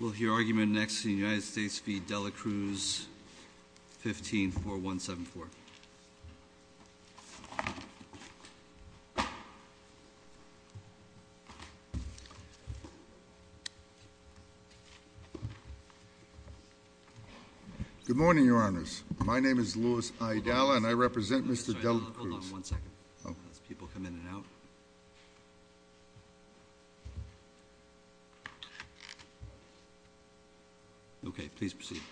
Will your argument next in the United States v. Dela Cruz, 15-4174. Good morning, Your Honors. My name is Louis Aydala and I represent Mr. Dela Cruz. Hold on one second. People come in and out. Okay, please proceed.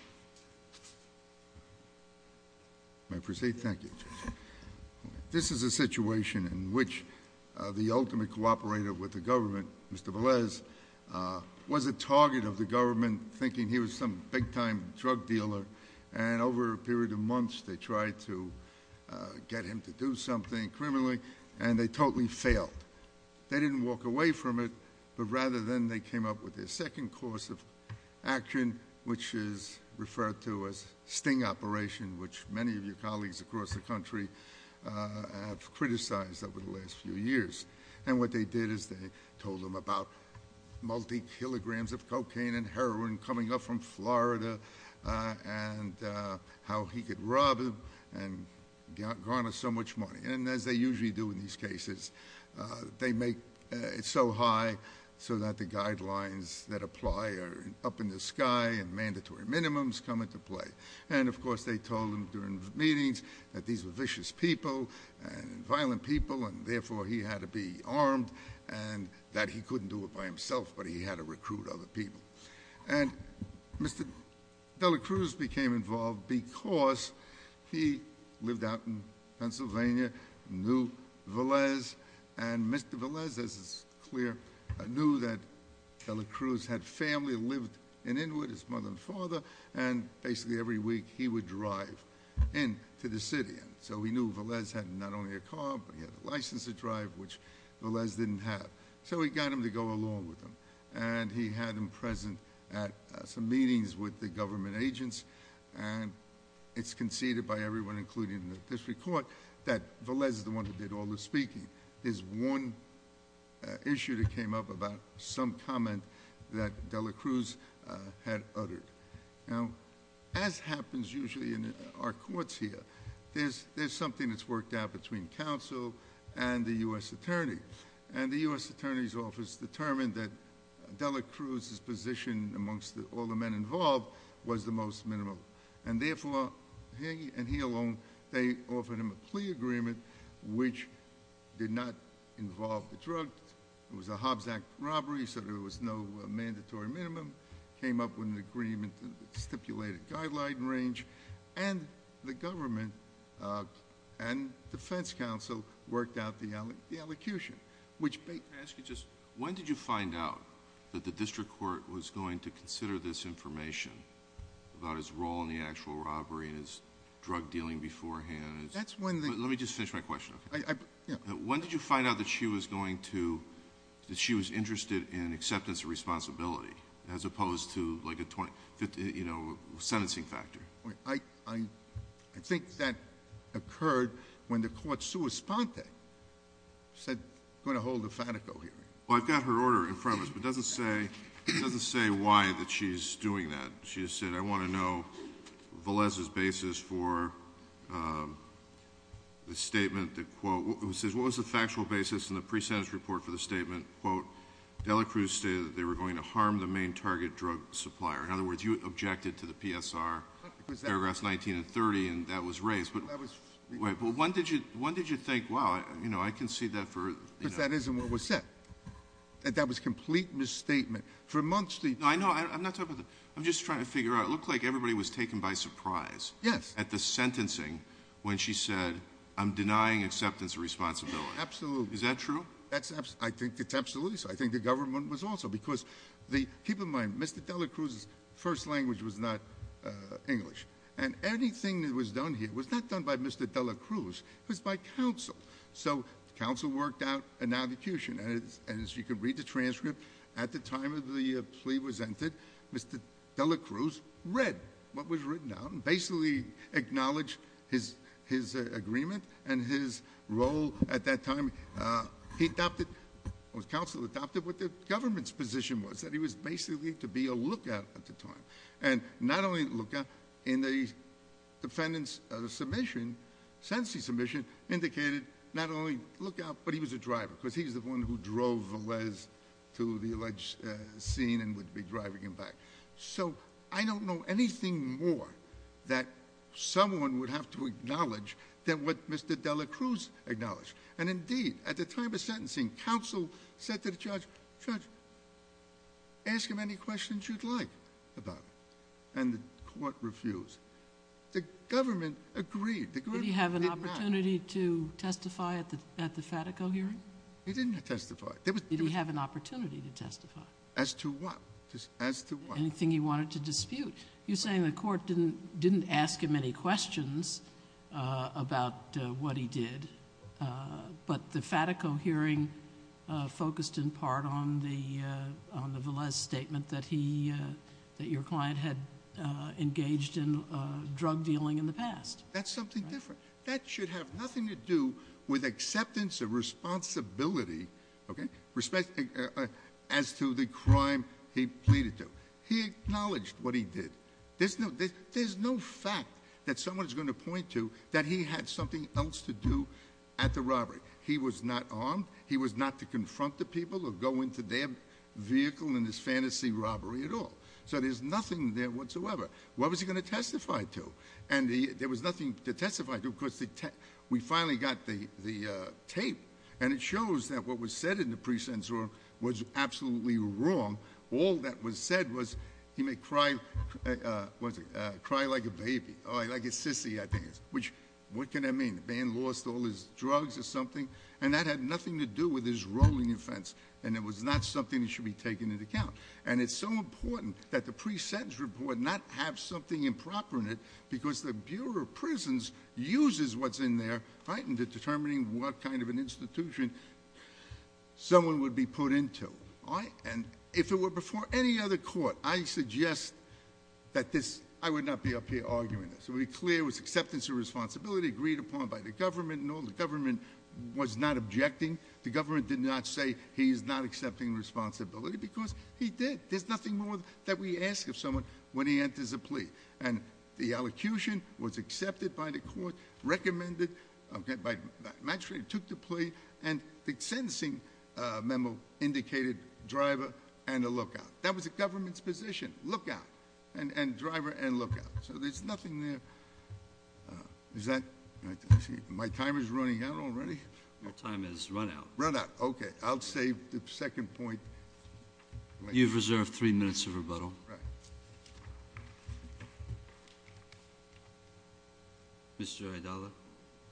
May I proceed? Thank you. This is a situation in which the ultimate cooperator with the government, Mr. Velez, was a target of the government, thinking he was some big-time drug dealer. And over a period of months, they tried to get him to do something criminally, and they totally failed. They didn't walk away from it, but rather than, they came up with their second course of action, which is referred to as sting operation, which many of your colleagues across the country have criticized over the last few years. And what they did is they told him about multi-kilograms of cocaine and heroin coming up from Florida, and how he could rob them and garner so much money. And as they usually do in these cases, they make it so high so that the guidelines that apply are up in the sky, and mandatory minimums come into play. And of course, they told him during meetings that these were vicious people and violent people, and therefore he had to be armed, and that he couldn't do it by himself, but he had to recruit other people. And Mr. De La Cruz became involved because he lived out in Pennsylvania, knew Velez, and Mr. Velez, as is clear, knew that De La Cruz had family, lived in Inwood, his mother and father, and basically every week he would drive in to the city. And so he knew Velez had not only a car, but he had a license to drive, which Velez didn't have. So he got him to go along with him, and he had him present at some meetings with the government agents. And it's conceded by everyone, including the district court, that Velez is the one who did all the speaking. There's one issue that came up about some comment that De La Cruz had uttered. Now, as happens usually in our courts here, there's something that's worked out between counsel and the U.S. attorney. And the U.S. attorney's office determined that De La Cruz's position amongst all the men involved was the most minimal. And therefore, he and he alone, they offered him a plea agreement, which did not involve the drug. It was a Hobbs Act robbery, so there was no mandatory minimum. It came up with an agreement and stipulated a guideline and range. And the government and defense counsel worked out the elocution, which... Can I ask you just, when did you find out that the district court was going to consider this information about his role in the actual robbery and his drug dealing beforehand? That's when the... Let me just finish my question, okay? When did you find out that she was going to... that she was interested in acceptance of responsibility, as opposed to a sentencing factor? I think that occurred when the court sua sponte said, going to hold a Fatico hearing. Well, I've got her order in front of us, but it doesn't say why that she's doing that. She just said, I want to know Velez's basis for the statement that, quote... It says, what was the factual basis in the pre-sentence report for the statement, quote, Dela Cruz stated that they were going to harm the main target drug supplier. In other words, you objected to the PSR, paragraphs 19 and 30, and that was raised. That was... Wait, but when did you think, wow, you know, I can see that for... Because that isn't what was said. That was a complete misstatement. For months... No, I know. I'm not talking about... I'm just trying to figure out... It looked like everybody was taken by surprise... Yes.... at the sentencing, when she said, I'm denying acceptance of responsibility. Absolutely. Is that true? I think it's absolutely true. I think the government was also, because the... Keep in mind, Mr. Dela Cruz's first language was not English. And, anything that was done here was not done by Mr. Dela Cruz. It was by counsel. So, counsel worked out an advocation. And, as you can read the transcript, at the time the plea was entered, Mr. Dela Cruz read what was written out, and basically acknowledged his agreement and his role at that time. He adopted, or counsel adopted, what the government's position was, that he was basically to be a lookout at the time. And, not only a lookout, in the defendant's submission, sentencing submission, indicated not only lookout, but he was a driver, because he was the one who drove Velez to the alleged scene and would be driving him back. So, I don't know anything more that someone would have to acknowledge than what Mr. Dela Cruz acknowledged. And, indeed, at the time of sentencing, counsel said to the judge, Judge, ask him any questions you'd like about it. And, the court refused. The government agreed. Did he have an opportunity to testify at the Fatico hearing? He didn't testify. Did he have an opportunity to testify? As to what? Anything he wanted to dispute. You're saying the court didn't ask him any questions about what he did, but the Fatico hearing focused in part on the Velez statement that your client had engaged in drug dealing in the past. That's something different. That should have nothing to do with acceptance of responsibility as to the crime he pleaded to. He acknowledged what he did. There's no fact that someone's going to point to that he had something else to do at the robbery. He was not armed. He was not to confront the people or go into their vehicle in this fantasy robbery at all. So, there's nothing there whatsoever. What was he going to testify to? And, there was nothing to testify to because we finally got the tape. And, it shows that what was said in the pre-sentence was absolutely wrong. All that was said was he may cry like a baby, like a sissy I think. Which, what can that mean? The man lost all his drugs or something? And, that had nothing to do with his role in the offense. And, it was not something that should be taken into account. And, it's so important that the pre-sentence report not have something improper in it because the Bureau of Prisons uses what's in there, right, into determining what kind of an institution someone would be put into. And, if it were before any other court, I suggest that this, I would not be up here arguing this. To be clear, it was acceptance of responsibility agreed upon by the government. No, the government was not objecting. The government did not say he's not accepting responsibility because he did. There's nothing more that we ask of someone when he enters a plea. And, the elocution was accepted by the court, recommended by the magistrate, took the plea, and the sentencing memo indicated driver and a lookout. That was the government's position, lookout and driver and lookout. So, there's nothing there. Is that, my timer's running out already? Your time has run out. Run out, okay. I'll save the second point. You've reserved three minutes of rebuttal. Right. Mr. Idalla.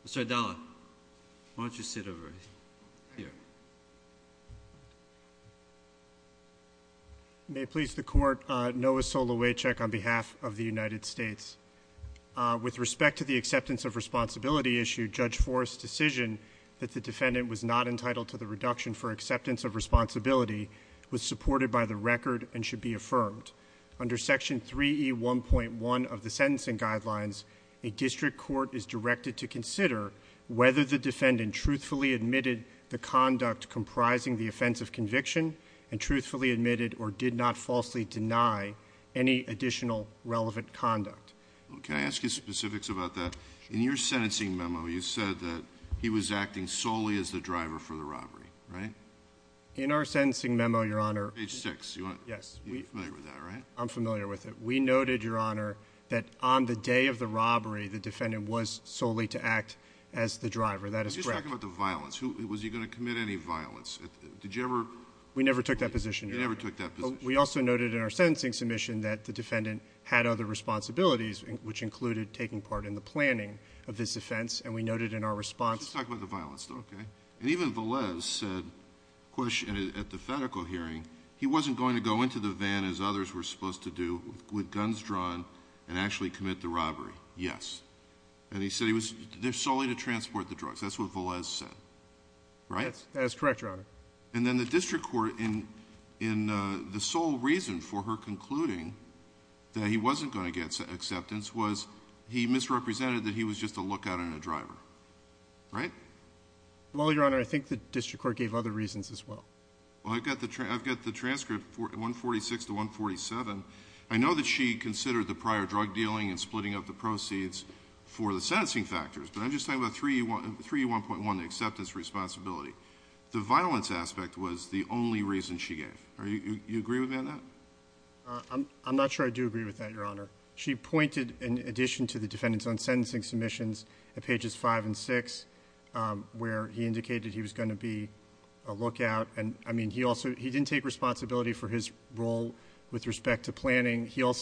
Mr. Idalla, why don't you sit over here. May it please the court, Noah Solowaychuk on behalf of the United States. With respect to the acceptance of responsibility issue, Judge Forrest's decision that the defendant was not entitled to the reduction for acceptance of responsibility was supported by the record and should be affirmed. Under section 3E1.1 of the sentencing guidelines, a district court is directed to consider whether the defendant truthfully admitted the conduct comprising the offense of conviction and truthfully admitted or did not falsely deny any additional relevant conduct. Can I ask you specifics about that? In your sentencing memo, you said that he was acting solely as the driver for the robbery, right? In our sentencing memo, Your Honor. Page 6. Yes. You're familiar with that, right? I'm familiar with it. We noted, Your Honor, that on the day of the robbery, the defendant was solely to act as the driver. That is correct. Let's just talk about the violence. Was he going to commit any violence? Did you ever— We never took that position, Your Honor. You never took that position. We also noted in our sentencing submission that the defendant had other responsibilities, which included taking part in the planning of this offense, and we noted in our response— Let's just talk about the violence, though, okay? And even Velez said, of course, at the federal hearing, he wasn't going to go into the van as others were supposed to do with guns drawn and actually commit the robbery. Yes. And he said he was solely to transport the drugs. That's what Velez said, right? That is correct, Your Honor. And then the district court, in the sole reason for her concluding that he wasn't going to get acceptance, was he misrepresented that he was just a lookout and a driver, right? Well, Your Honor, I think the district court gave other reasons as well. Well, I've got the transcript, 146 to 147. I know that she considered the prior drug dealing and splitting up the proceeds for the sentencing factors, but I'm just talking about 3E1.1, the acceptance responsibility. The violence aspect was the only reason she gave. Do you agree with that, Matt? I'm not sure I do agree with that, Your Honor. She pointed, in addition to the defendants on sentencing submissions at pages 5 and 6, where he indicated he was going to be a lookout, and, I mean, he didn't take responsibility for his role with respect to planning. He did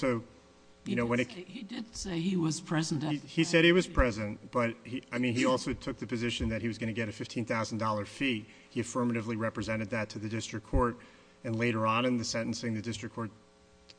say he was present. He said he was present, but, I mean, he also took the position that he was going to get a $15,000 fee. He affirmatively represented that to the district court, and later on in the sentencing the district court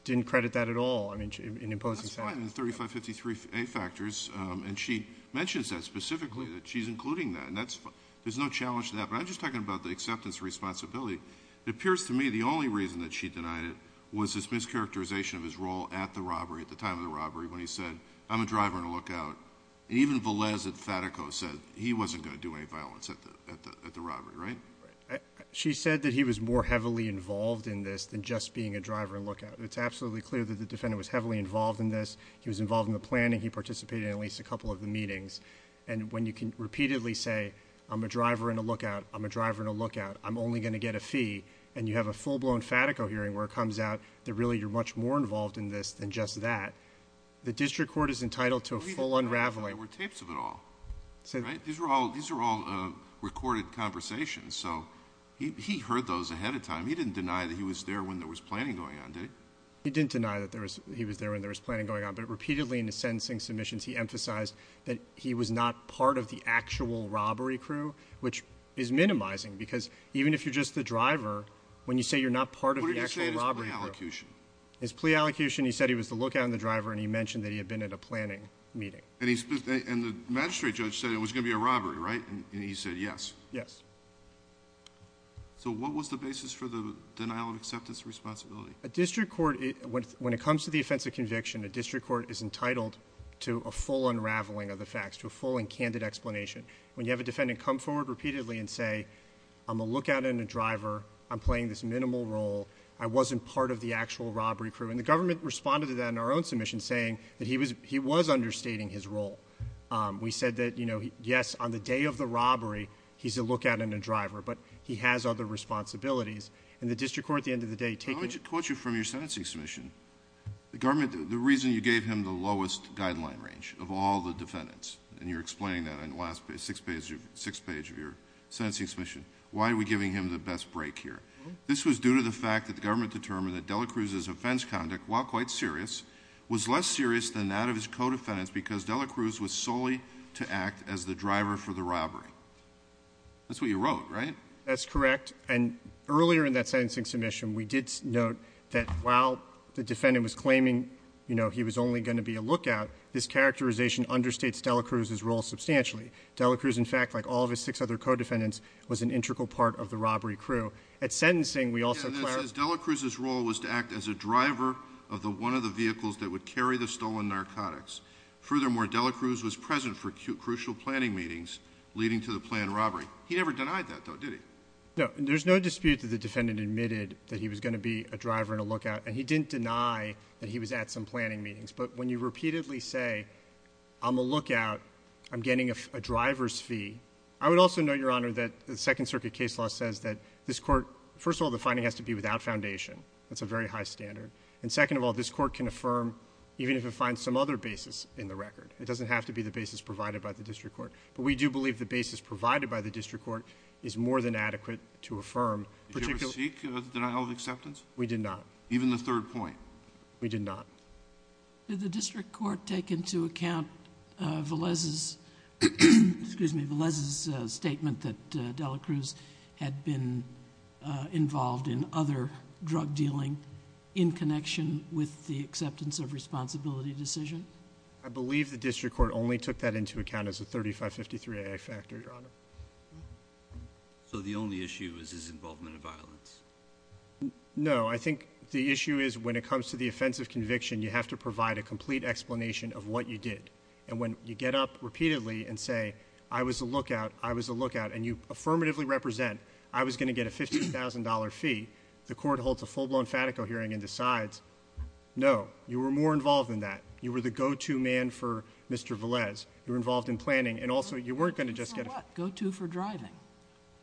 didn't credit that at all in imposing sanctions. That's fine in the 3553A factors, and she mentions that specifically, that she's including that, and there's no challenge to that. But I'm just talking about the acceptance responsibility. It appears to me the only reason that she denied it was this mischaracterization of his role at the robbery, when he said, I'm a driver and a lookout, and even Velez at Fatico said he wasn't going to do any violence at the robbery, right? She said that he was more heavily involved in this than just being a driver and lookout. It's absolutely clear that the defendant was heavily involved in this. He was involved in the planning. He participated in at least a couple of the meetings, and when you can repeatedly say, I'm a driver and a lookout, I'm a driver and a lookout, I'm only going to get a fee, and you have a full-blown Fatico hearing where it comes out that really you're much more involved in this than just that, the district court is entitled to a full unraveling. There were tapes of it all, right? These are all recorded conversations, so he heard those ahead of time. He didn't deny that he was there when there was planning going on, did he? He didn't deny that he was there when there was planning going on, but repeatedly in his sentencing submissions he emphasized that he was not part of the actual robbery crew, which is minimizing because even if you're just the driver, when you say you're not part of the actual robbery crew. What did he say in his plea allocution? His plea allocation, he said he was the lookout and the driver, and he mentioned that he had been at a planning meeting. And the magistrate judge said it was going to be a robbery, right? And he said yes. Yes. So what was the basis for the denial of acceptance responsibility? A district court, when it comes to the offense of conviction, a district court is entitled to a full unraveling of the facts, to a full and candid explanation. When you have a defendant come forward repeatedly and say, I'm a lookout and a driver. I'm playing this minimal role. I wasn't part of the actual robbery crew. And the government responded to that in our own submission saying that he was understating his role. We said that, you know, yes, on the day of the robbery he's a lookout and a driver, but he has other responsibilities. And the district court, at the end of the day, taking— Let me quote you from your sentencing submission. The reason you gave him the lowest guideline range of all the defendants, and you're explaining that in the last six pages of your sentencing submission, why are we giving him the best break here? This was due to the fact that the government determined that Delacruz's offense conduct, while quite serious, was less serious than that of his co-defendants because Delacruz was solely to act as the driver for the robbery. That's what you wrote, right? That's correct. And earlier in that sentencing submission, we did note that while the defendant was claiming, you know, he was only going to be a lookout, this characterization understates Delacruz's role substantially. Delacruz, in fact, like all of his six other co-defendants, was an integral part of the robbery crew. At sentencing, we also— Yes, and that says Delacruz's role was to act as a driver of the one of the vehicles that would carry the stolen narcotics. Furthermore, Delacruz was present for crucial planning meetings leading to the planned robbery. He never denied that, though, did he? No. And there's no dispute that the defendant admitted that he was going to be a driver and a lookout, and he didn't deny that he was at some planning meetings. But when you repeatedly say, I'm a lookout, I'm getting a driver's fee, I would also note, Your Honor, that the Second Circuit case law says that this court— first of all, the finding has to be without foundation. That's a very high standard. And second of all, this court can affirm even if it finds some other basis in the record. It doesn't have to be the basis provided by the district court. But we do believe the basis provided by the district court is more than adequate to affirm— Did you ever seek denial of acceptance? We did not. Even the third point? We did not. Did the district court take into account Velez's— excuse me—Velez's statement that Delacruz had been involved in other drug dealing in connection with the acceptance of responsibility decision? I believe the district court only took that into account as a 3553-AA factor, Your Honor. No. I think the issue is when it comes to the offense of conviction, you have to provide a complete explanation of what you did. And when you get up repeatedly and say, I was a lookout, I was a lookout, and you affirmatively represent, I was going to get a $50,000 fee, the court holds a full-blown fatico hearing and decides, no, you were more involved than that. You were the go-to man for Mr. Velez. You were involved in planning. And also, you weren't going to just get— Go-to for what? Go-to for driving.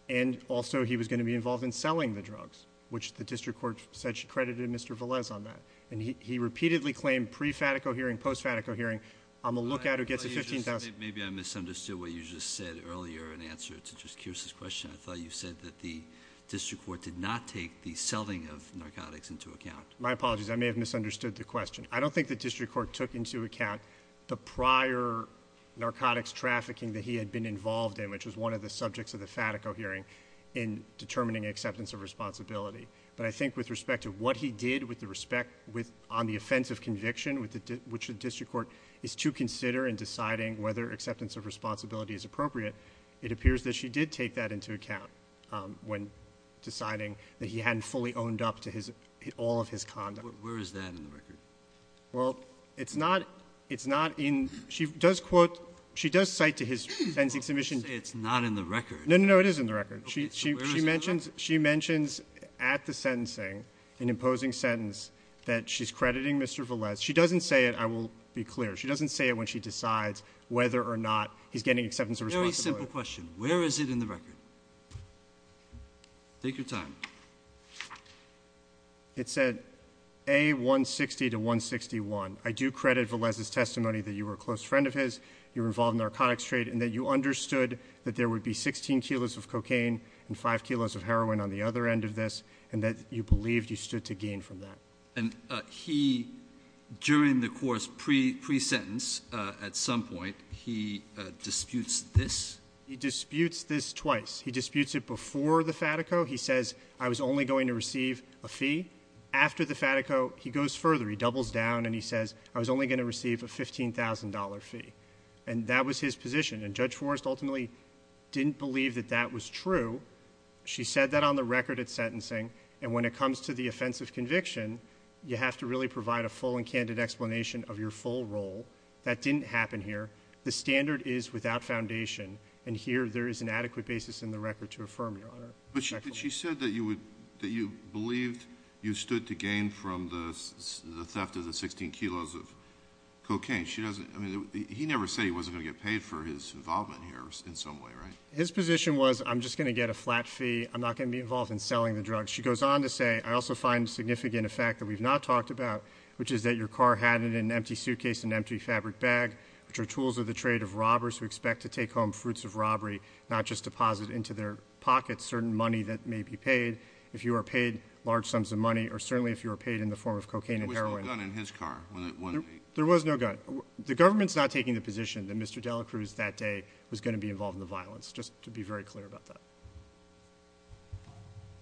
And also, he was going to be involved in selling the drugs, which the district court said she credited Mr. Velez on that. And he repeatedly claimed pre-fatico hearing, post-fatico hearing, I'm a lookout who gets a $15,000— Maybe I misunderstood what you just said earlier in answer to just Kearse's question. I thought you said that the district court did not take the selling of narcotics into account. My apologies. I may have misunderstood the question. I don't think the district court took into account the prior narcotics trafficking that he had been involved in, which was one of the subjects of the fatico hearing, in determining acceptance of responsibility. But I think with respect to what he did on the offense of conviction, which the district court is to consider in deciding whether acceptance of responsibility is appropriate, it appears that she did take that into account when deciding that he hadn't fully owned up to all of his conduct. Where is that in the record? Well, it's not in—she does quote—she does cite to his sentencing submission— You say it's not in the record. No, no, no, it is in the record. She mentions at the sentencing, an imposing sentence, that she's crediting Mr. Velez. She doesn't say it, I will be clear. She doesn't say it when she decides whether or not he's getting acceptance of responsibility. Very simple question. Where is it in the record? Take your time. It said, A, 160 to 161. I do credit Velez's testimony that you were a close friend of his, you were involved in the narcotics trade, and that you understood that there would be 16 kilos of cocaine and 5 kilos of heroin on the other end of this, and that you believed you stood to gain from that. And he, during the court's pre-sentence at some point, he disputes this? He disputes this twice. He disputes it before the fatico. He says, I was only going to receive a fee. After the fatico, he goes further. He doubles down, and he says, I was only going to receive a $15,000 fee. And that was his position. And Judge Forrest ultimately didn't believe that that was true. She said that on the record at sentencing, and when it comes to the offensive conviction, you have to really provide a full and candid explanation of your full role. That didn't happen here. The standard is without foundation, and here there is an adequate basis in the record to affirm, Your Honor. But she said that you believed you stood to gain from the theft of the 16 kilos of cocaine. I mean, he never said he wasn't going to get paid for his involvement here in some way, right? His position was, I'm just going to get a flat fee. I'm not going to be involved in selling the drugs. She goes on to say, I also find significant a fact that we've not talked about, which is that your car had in an empty suitcase an empty fabric bag, which are tools of the trade of robbers who expect to take home fruits of robbery, not just deposit into their pockets certain money that may be paid. If you are paid large sums of money, or certainly if you are paid in the form of cocaine and heroin. There was no gun in his car? There was no gun. The government's not taking the position that Mr. Delacruz that day was going to be involved in the violence, just to be very clear about that.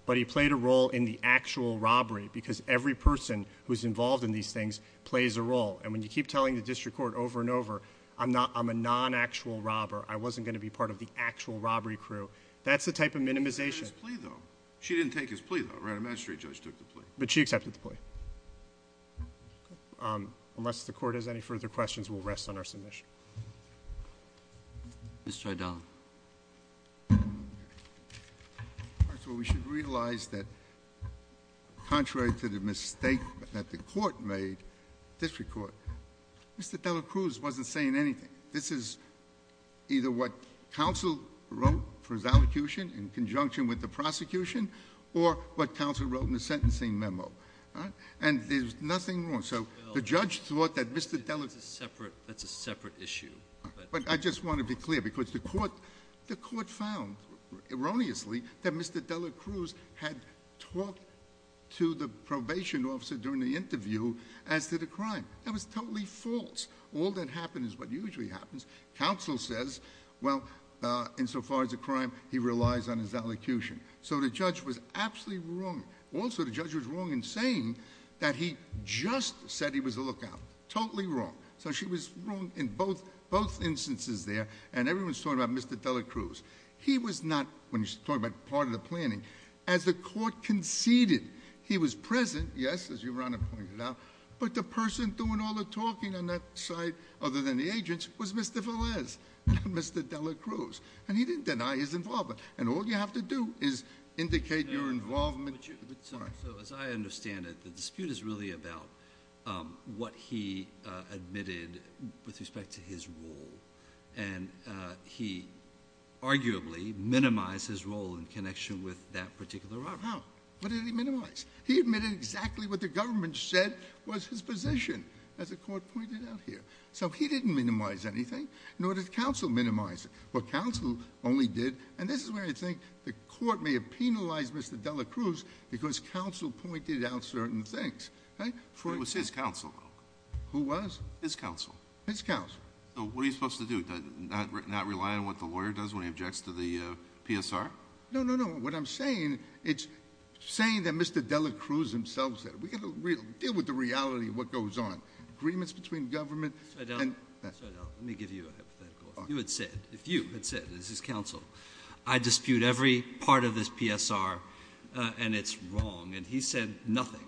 But he played a role in the actual robbery, because every person who's involved in these things plays a role. And when you keep telling the district court over and over, I'm a non-actual robber, I wasn't going to be part of the actual robbery crew, that's the type of minimization. She didn't take his plea though, right? A magistrate judge took the plea. But she accepted the plea. Unless the court has any further questions, we'll rest on our submission. Mr. O'Donnell. First of all, we should realize that contrary to the mistake that the court made, district court, Mr. Delacruz wasn't saying anything. This is either what counsel wrote for his allocution in conjunction with the prosecution, or what counsel wrote in the sentencing memo. And there's nothing wrong. So the judge thought that Mr. Delacruz- That's a separate issue. But I just want to be clear, because the court found, erroneously, that Mr. Delacruz had talked to the probation officer during the interview as to the crime. That was totally false. All that happened is what usually happens. Counsel says, well, insofar as the crime, he relies on his allocution. So the judge was absolutely wrong. Also, the judge was wrong in saying that he just said he was a lookout. Totally wrong. So she was wrong in both instances there. And everyone's talking about Mr. Delacruz. He was not, when you're talking about part of the planning, as the court conceded, he was present, yes, as Your Honor pointed out, but the person doing all the talking on that side, other than the agents, was Mr. Velez, not Mr. Delacruz. And he didn't deny his involvement. And all you have to do is indicate your involvement. So as I understand it, the dispute is really about what he admitted with respect to his role, and he arguably minimized his role in connection with that particular robbery. No. What did he minimize? He admitted exactly what the government said was his position, as the court pointed out here. So he didn't minimize anything, nor did counsel minimize it. Well, counsel only did, and this is where I think the court may have penalized Mr. Delacruz because counsel pointed out certain things. It was his counsel, though. Who was? His counsel. His counsel. So what are you supposed to do, not rely on what the lawyer does when he objects to the PSR? No, no, no. What I'm saying, it's saying that Mr. Delacruz himself said it. We've got to deal with the reality of what goes on. Agreements between government. Let me give you a hypothetical. If you had said, if you had said, as his counsel, I dispute every part of this PSR and it's wrong, and he said nothing,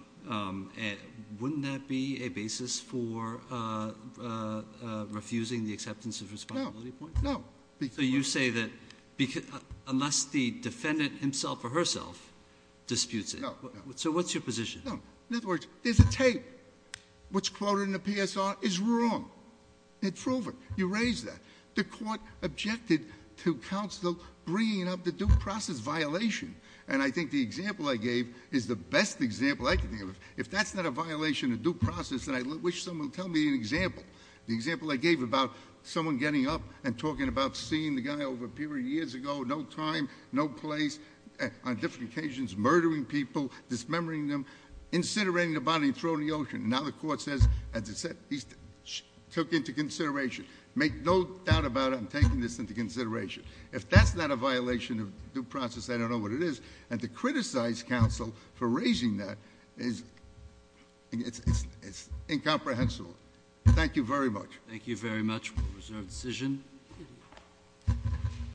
wouldn't that be a basis for refusing the acceptance of responsibility point? No. So you say that unless the defendant himself or herself disputes it. No, no. So what's your position? In other words, there's a tape. What's quoted in the PSR is wrong. It's proven. You raised that. The court objected to counsel bringing up the due process violation, and I think the example I gave is the best example I can think of. If that's not a violation of due process, then I wish someone would tell me an example. The example I gave about someone getting up and talking about seeing the guy over a period of years ago, no time, no place, on different occasions murdering people, dismembering them, incinerating the body and throwing it in the ocean. Now the court says, as I said, he took into consideration. Make no doubt about it, I'm taking this into consideration. If that's not a violation of due process, I don't know what it is. And to criticize counsel for raising that is incomprehensible. Thank you very much. Thank you very much. We'll reserve the decision.